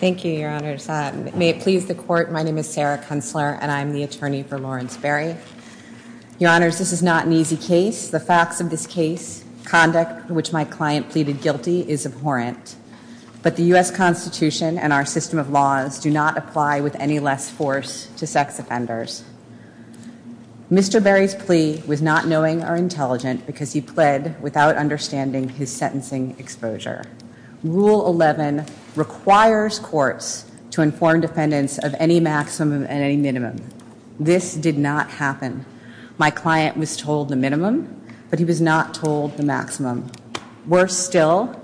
Thank you, your honors. May it please the court, my name is Sarah Kunstler and I'm the Your honors, this is not an easy case. The facts of this case, conduct which my client pleaded guilty is abhorrent, but the U.S. Constitution and our system of laws do not apply with any less force to sex offenders. Mr. Berry's plea was not knowing or intelligent because he requires courts to inform defendants of any maximum and any minimum. This did not happen. My client was told the minimum, but he was not told the maximum. He was told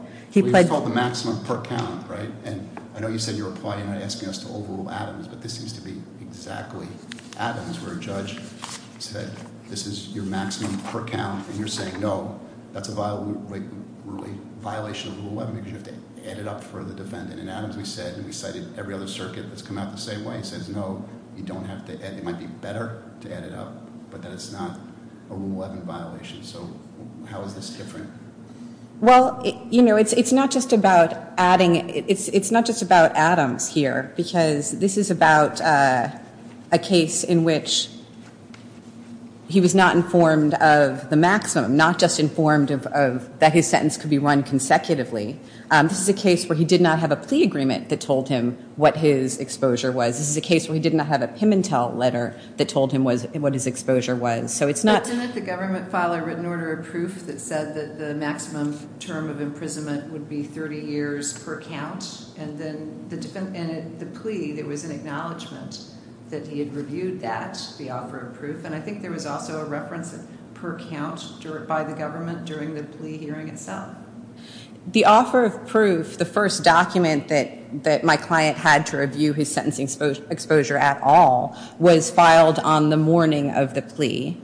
the maximum per count, right? And I know you said in your reply you're not asking us to overrule Adams, but this seems to be exactly Adams where a judge said this is your maximum per count and you're saying no, that's a violation of Rule 11 because you have to add it up for the defendant. In Adams we said, and we cited every other Well, you know, it's not just about Adams here because this is about a case in which he was not informed of the maximum, not just informed that his sentence could be run consecutively. This is a case where he did not have a plea agreement that told him what his exposure was. This is a case where he did not have a Pimentel letter that told him what his exposure was. But didn't the government file a written order of proof that said that the maximum term of imprisonment would be 30 years per count? And then in the plea there was an acknowledgement that he had reviewed that, the offer of proof. And I think there was also a reference per count by the government during the plea hearing itself. The offer of proof, the first document that my client had to review his sentencing exposure at all, was filed on the morning of the plea.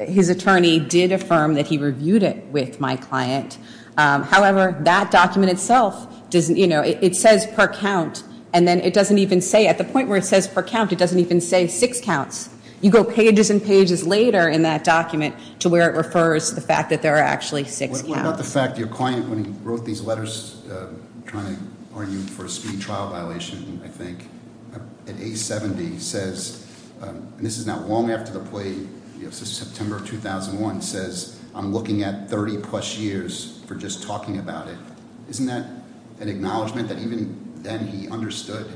His attorney did affirm that he reviewed it with my client. However, that document itself doesn't, you know, it says per count and then it doesn't even say, at the point where it says per count, it doesn't even say six counts. You go pages and pages later in that document to where it refers to the fact that there are actually six counts. In fact, your client, when he wrote these letters, trying to argue for a speedy trial violation, I think, at age 70, says, and this is not long after the plea, this is September 2001, says, I'm looking at 30 plus years for just talking about it. Isn't that an acknowledgement that even then he understood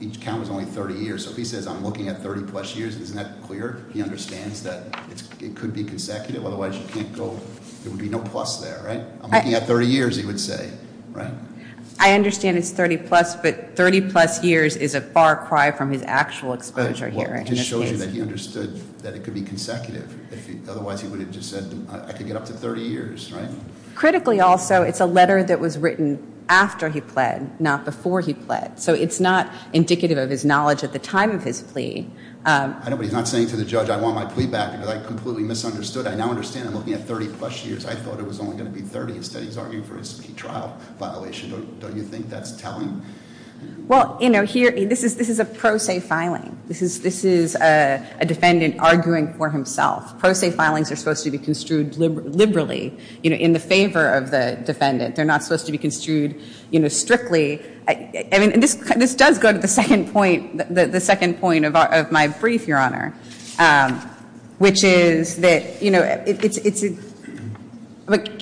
each count was only 30 years? So if he says I'm looking at 30 plus years, isn't that clear? He understands that it could be consecutive, otherwise you can't go, there would be no plus there, right? I'm looking at 30 years, he would say, right? I understand it's 30 plus, but 30 plus years is a far cry from his actual exposure here. Well, it just shows you that he understood that it could be consecutive. Otherwise, he would have just said, I could get up to 30 years, right? Critically, also, it's a letter that was written after he pled, not before he pled. So it's not indicative of his knowledge at the time of his plea. I know, but he's not saying to the judge, I want my plea back, because I completely misunderstood. I now understand I'm looking at 30 plus years. I thought it was only going to be 30. Instead, he's arguing for his plea trial violation. Don't you think that's telling? Well, here, this is a pro se filing. This is a defendant arguing for himself. Pro se filings are supposed to be construed liberally, in the favor of the defendant. They're not supposed to be construed strictly. This does go to the second point of my brief, Your Honor. Can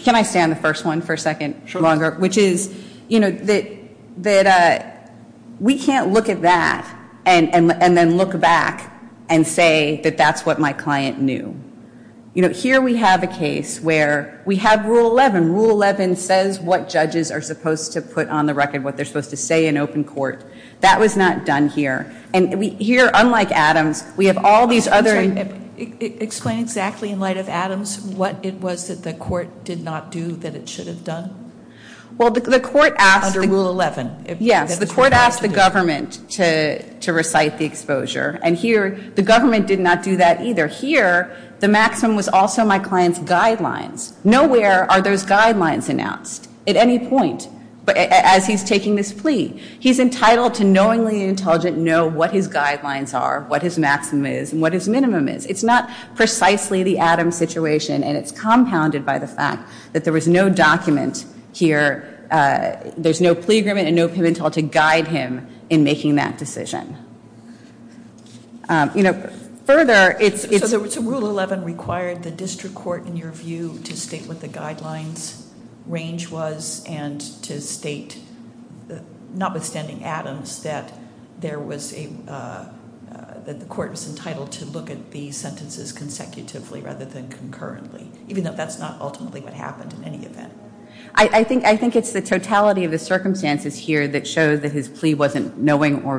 I stay on the first one for a second? Sure. Which is that we can't look at that and then look back and say that that's what my client knew. Here, we have a case where we have Rule 11. Rule 11 says what judges are supposed to put on the record, what they're supposed to say in open court. That was not done here. And here, unlike Adams, we have all these other. Explain exactly, in light of Adams, what it was that the court did not do that it should have done. Well, the court asked. Under Rule 11. Yes, the court asked the government to recite the exposure. And here, the government did not do that either. Here, the maximum was also my client's guidelines. Nowhere are those guidelines announced at any point as he's taking this plea. He's entitled to knowingly and intelligently know what his guidelines are, what his maximum is, and what his minimum is. It's not precisely the Adams situation, and it's compounded by the fact that there was no document here. There's no plea agreement and no penalty to guide him in making that decision. You know, further, it's. So Rule 11 required the district court, in your view, to state what the guidelines range was and to state, notwithstanding Adams, that there was a, that the court was entitled to look at these sentences consecutively rather than concurrently, even though that's not ultimately what happened in any event. I think it's the totality of the circumstances here that shows that his plea wasn't knowing or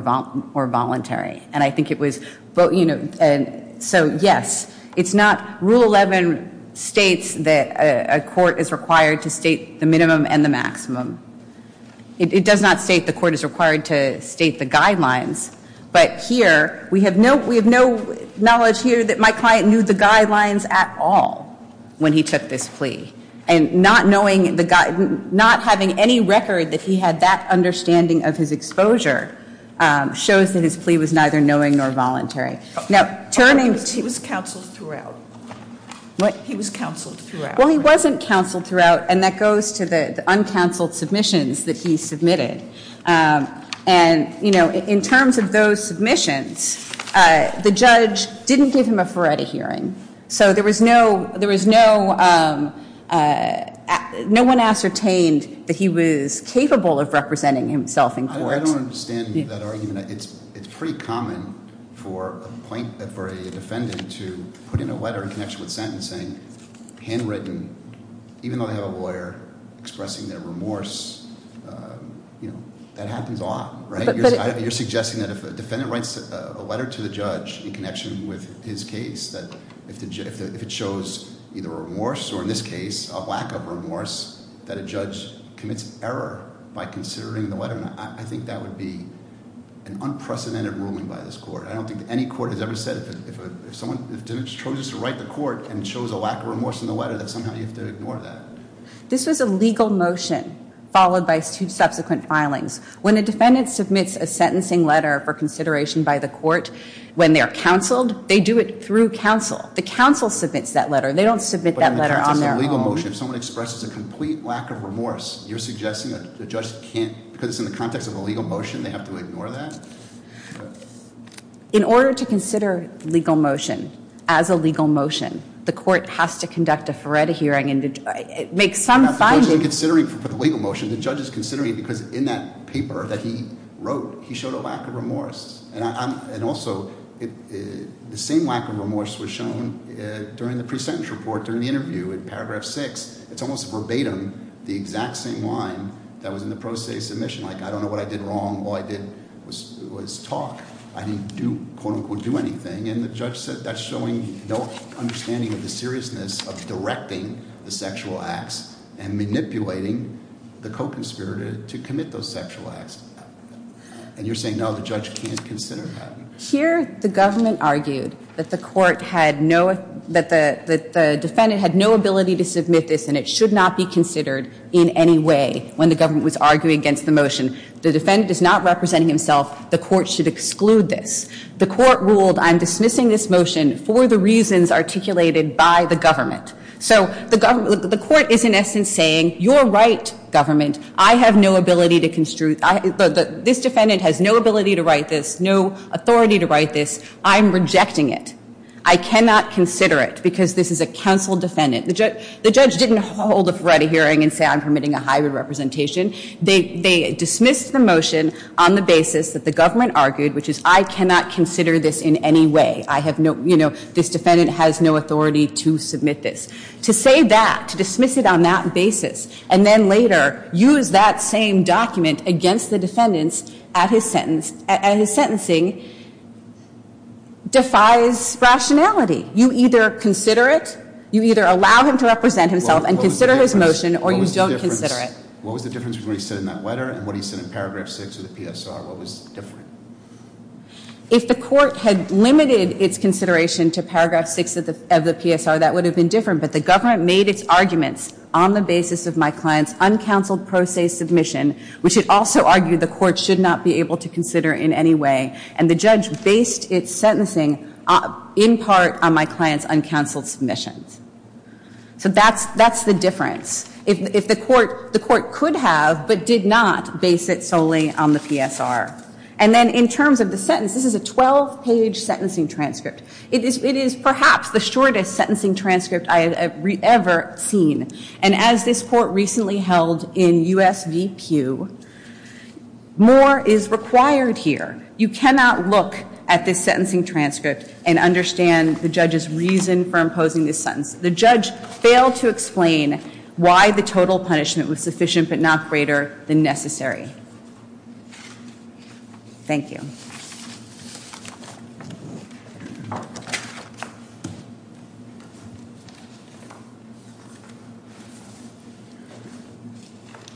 voluntary. And I think it was. So, yes, it's not. Rule 11 states that a court is required to state the minimum and the maximum. It does not state the court is required to state the guidelines. But here, we have no knowledge here that my client knew the guidelines at all when he took this plea. And not knowing, not having any record that he had that understanding of his exposure shows that his plea was neither knowing nor voluntary. Now, turning. He was counseled throughout. What? He was counseled throughout. Well, he wasn't counseled throughout, and that goes to the uncounseled submissions that he submitted. And, you know, in terms of those submissions, the judge didn't give him a Ferretti hearing. So there was no one ascertained that he was capable of representing himself in court. I don't understand that argument. It's pretty common for a defendant to put in a letter in connection with sentencing, handwritten, even though they have a lawyer expressing their remorse. You know, that happens a lot, right? You're suggesting that if a defendant writes a letter to the judge in connection with his case, that if it shows either remorse or, in this case, a lack of remorse, that a judge commits error by considering the letter. I think that would be an unprecedented ruling by this court. I don't think any court has ever said if someone chooses to write the court and shows a lack of remorse in the letter, that somehow you have to ignore that. This was a legal motion followed by two subsequent filings. When a defendant submits a sentencing letter for consideration by the court, when they're counseled, they do it through counsel. The counsel submits that letter. They don't submit that letter on their own. But in the context of a legal motion, if someone expresses a complete lack of remorse, you're suggesting that the judge can't, because it's in the context of a legal motion, they have to ignore that? In order to consider legal motion as a legal motion, the court has to conduct a Ferretti hearing and make some findings. For the legal motion, the judge is considering it because in that paper that he wrote, he showed a lack of remorse. And also, the same lack of remorse was shown during the pre-sentence report, during the interview in paragraph six. It's almost verbatim, the exact same line that was in the pro se submission. Like, I don't know what I did wrong. All I did was talk. I didn't do, quote unquote, do anything. And the judge said that's showing no understanding of the seriousness of directing the sexual acts and manipulating the co-conspirator to commit those sexual acts. And you're saying, no, the judge can't consider that? Here, the government argued that the defendant had no ability to submit this, and it should not be considered in any way when the government was arguing against the motion. The defendant is not representing himself. The court should exclude this. The court ruled, I'm dismissing this motion for the reasons articulated by the government. So the court is, in essence, saying, you're right, government. I have no ability to construe. This defendant has no ability to write this, no authority to write this. I'm rejecting it. I cannot consider it because this is a counsel defendant. The judge didn't hold a Ferretti hearing and say, I'm permitting a hybrid representation. They dismissed the motion on the basis that the government argued, which is, I cannot consider this in any way. I have no, you know, this defendant has no authority to submit this. To say that, to dismiss it on that basis, and then later use that same document against the defendants at his sentence, at his sentencing, defies rationality. You either consider it, you either allow him to represent himself and consider his motion, or you don't consider it. What was the difference between what he said in that letter and what he said in paragraph 6 of the PSR? What was different? If the court had limited its consideration to paragraph 6 of the PSR, that would have been different. But the government made its arguments on the basis of my client's uncounseled pro se submission, which it also argued the court should not be able to consider in any way. And the judge based its sentencing in part on my client's uncounseled submissions. So that's the difference. If the court could have, but did not base it solely on the PSR. And then in terms of the sentence, this is a 12-page sentencing transcript. It is perhaps the shortest sentencing transcript I have ever seen. And as this Court recently held in U.S. v. Pew, more is required here. You cannot look at this sentencing transcript and understand the judge's reason for imposing this sentence. The judge failed to explain why the total punishment was sufficient but not greater than necessary. Thank you.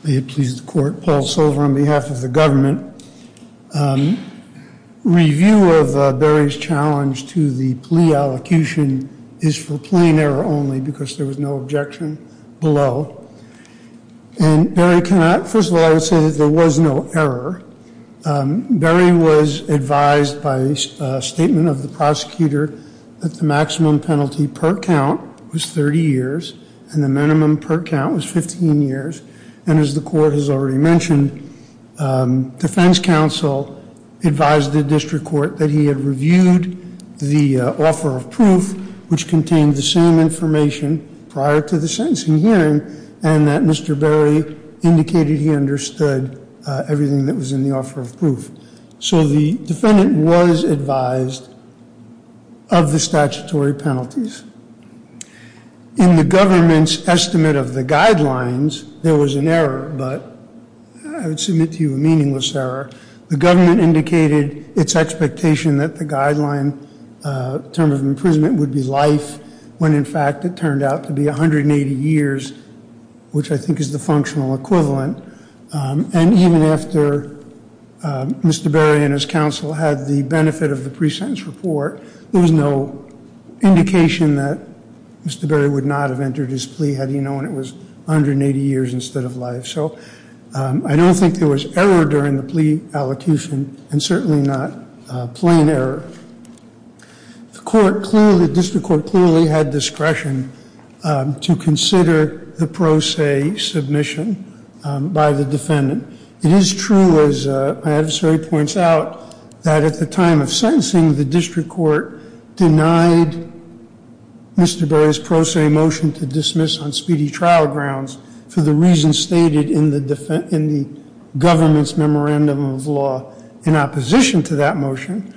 May it please the Court. Paul Solver on behalf of the government. Review of Barry's challenge to the plea allocution is for plain error only because there was no objection below. And Barry, first of all, I would say that there was no error. Barry was advised by a statement of the prosecutor that the maximum penalty per count was 30 years and the minimum per count was 15 years. And as the Court has already mentioned, defense counsel advised the district court that he had reviewed the offer of proof which contained the same information prior to the sentencing hearing and that Mr. Barry indicated he understood everything that was in the offer of proof. So the defendant was advised of the statutory penalties. In the government's estimate of the guidelines, there was an error, but I would submit to you a meaningless error. The government indicated its expectation that the guideline term of imprisonment would be life when in fact it turned out to be 180 years, which I think is the functional equivalent. And even after Mr. Barry and his counsel had the benefit of the pre-sentence report, there was no indication that Mr. Barry would not have entered his plea had he known it was 180 years instead of life. So I don't think there was error during the plea allocution and certainly not plain error. The district court clearly had discretion to consider the pro se submission by the defendant. It is true, as my adversary points out, that at the time of sentencing, the district court denied Mr. Barry's pro se motion to dismiss on speedy trial grounds for the reasons stated in the government's memorandum of law in opposition to that motion.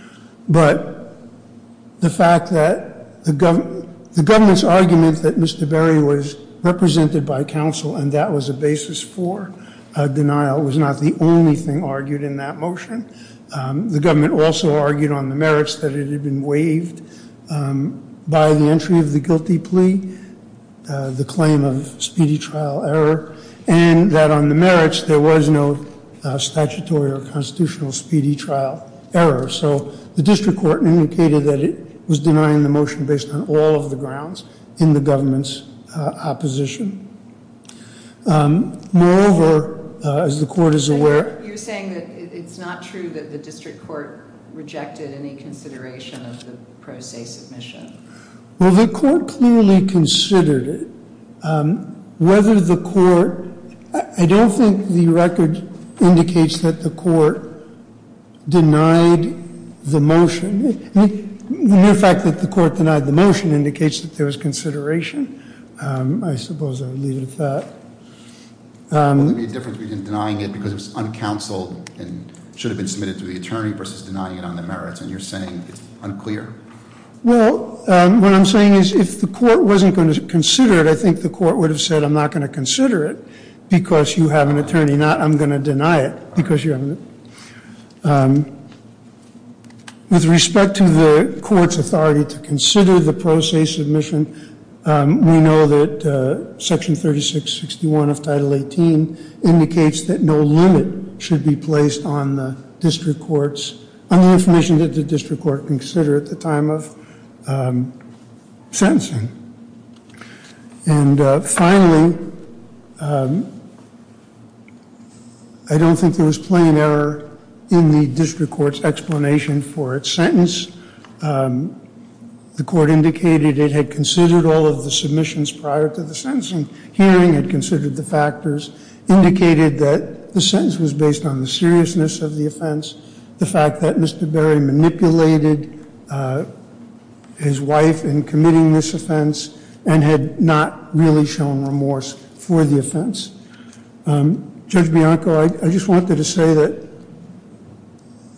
But the fact that the government's argument that Mr. Barry was represented by counsel and that was a basis for denial was not the only thing argued in that motion. The government also argued on the merits that it had been waived by the entry of the guilty plea, the claim of speedy trial error, and that on the merits there was no statutory or constitutional speedy trial error. So the district court indicated that it was denying the motion based on all of the grounds in the government's opposition. Moreover, as the court is aware- You're saying that it's not true that the district court rejected any consideration of the pro se submission. Well, the court clearly considered it. Whether the court-I don't think the record indicates that the court denied the motion. The mere fact that the court denied the motion indicates that there was consideration. I suppose I would leave it at that. Would there be a difference between denying it because it was uncounseled and should have been submitted to the attorney versus denying it on the merits? And you're saying it's unclear? Well, what I'm saying is if the court wasn't going to consider it, I think the court would have said I'm not going to consider it because you have an attorney, not I'm going to deny it because you have an attorney. With respect to the court's authority to consider the pro se submission, we know that Section 3661 of Title 18 indicates that no limit should be placed on the district court's- on the information that the district court considered at the time of sentencing. And finally, I don't think there was plain error in the district court's explanation for its sentence. The court indicated it had considered all of the submissions prior to the sentencing hearing, had considered the factors, indicated that the sentence was based on the seriousness of the offense, the fact that Mr. Berry manipulated his wife in committing this offense and had not really shown remorse for the offense. Judge Bianco, I just wanted to say that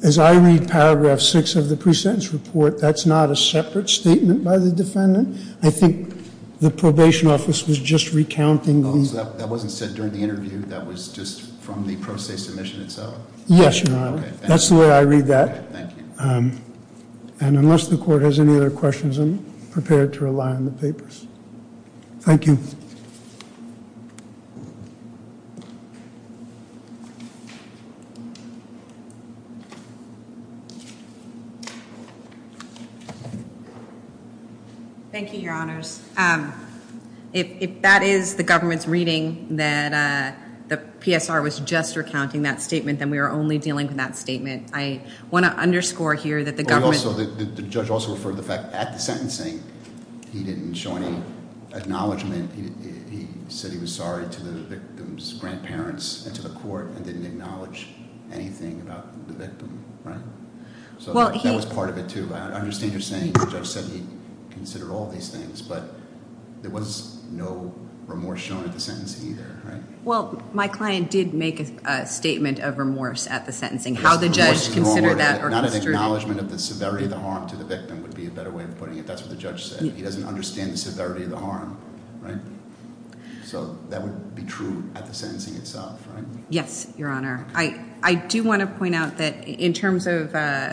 as I read Paragraph 6 of the pre-sentence report, that's not a separate statement by the defendant. I think the probation office was just recounting the- Oh, so that wasn't said during the interview? Yes, Your Honor. That's the way I read that. And unless the court has any other questions, I'm prepared to rely on the papers. Thank you. Thank you, Your Honors. If that is the government's reading that the PSR was just recounting that statement, then we are only dealing with that statement. I want to underscore here that the government- The judge also referred to the fact that at the sentencing, he didn't show any acknowledgement. He said he was sorry to the victim's grandparents and to the court and didn't acknowledge anything about the victim, right? So that was part of it, too. I understand you're saying the judge said he considered all these things, but there was no remorse shown at the sentencing either, right? Well, my client did make a statement of remorse at the sentencing. How the judge considered that or- Not an acknowledgement of the severity of the harm to the victim would be a better way of putting it. That's what the judge said. He doesn't understand the severity of the harm, right? So that would be true at the sentencing itself, right? Yes, Your Honor. I do want to point out that in terms of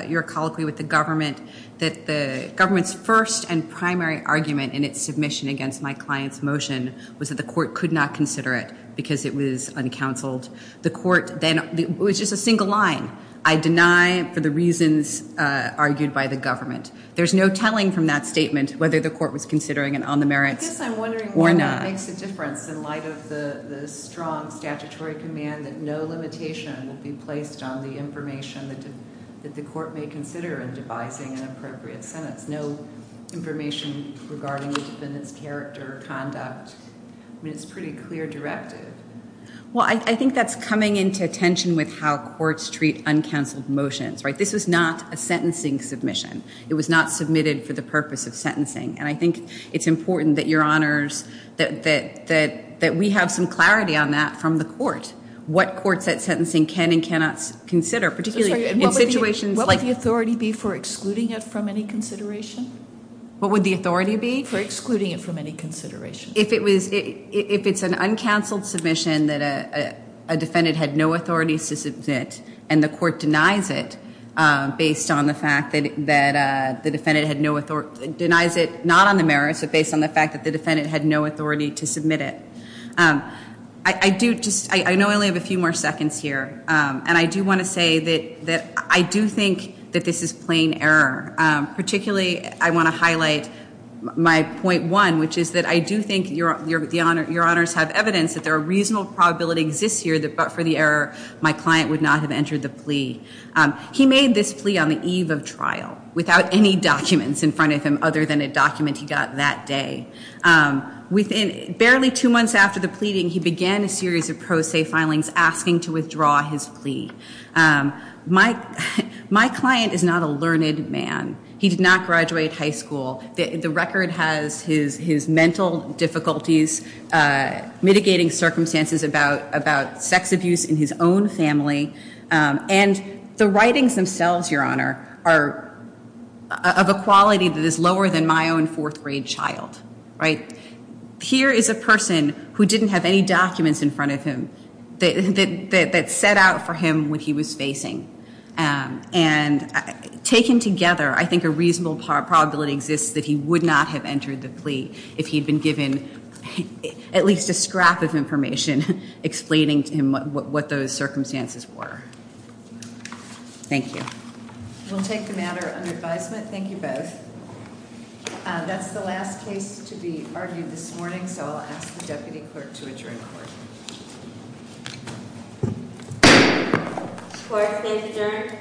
your colloquy with the government, that the government's first and primary argument in its submission against my client's motion was that the court could not consider it because it was uncounseled. The court then- it was just a single line. I deny for the reasons argued by the government. There's no telling from that statement whether the court was considering it on the merits or not. I guess I'm wondering what makes a difference in light of the strong statutory command that no limitation will be placed on the information that the court may consider in devising an appropriate sentence. That's no information regarding the defendant's character or conduct. I mean, it's a pretty clear directive. Well, I think that's coming into attention with how courts treat uncounseled motions, right? This was not a sentencing submission. It was not submitted for the purpose of sentencing. And I think it's important that, Your Honors, that we have some clarity on that from the court, what courts that sentencing can and cannot consider, particularly in situations like- What would the authority be? For excluding it from any consideration. If it was- if it's an uncounseled submission that a defendant had no authority to submit and the court denies it based on the fact that the defendant had no- denies it not on the merits but based on the fact that the defendant had no authority to submit it. I do just- I know I only have a few more seconds here, and I do want to say that I do think that this is plain error, particularly I want to highlight my point one, which is that I do think, Your Honors, have evidence that there are reasonable probabilities this year that but for the error, my client would not have entered the plea. He made this plea on the eve of trial without any documents in front of him other than a document he got that day. Within barely two months after the pleading, he began a series of pro se filings asking to withdraw his plea. My client is not a learned man. He did not graduate high school. The record has his mental difficulties, mitigating circumstances about sex abuse in his own family, and the writings themselves, Your Honor, are of a quality that is lower than my own fourth grade child. Here is a person who didn't have any documents in front of him that set out for him what he was facing. And taken together, I think a reasonable probability exists that he would not have entered the plea if he had been given at least a scrap of information explaining to him what those circumstances were. Thank you. We'll take the matter under advisement. Thank you both. That's the last case to be argued this morning, so I'll ask the Deputy Clerk to adjourn court. Court is adjourned.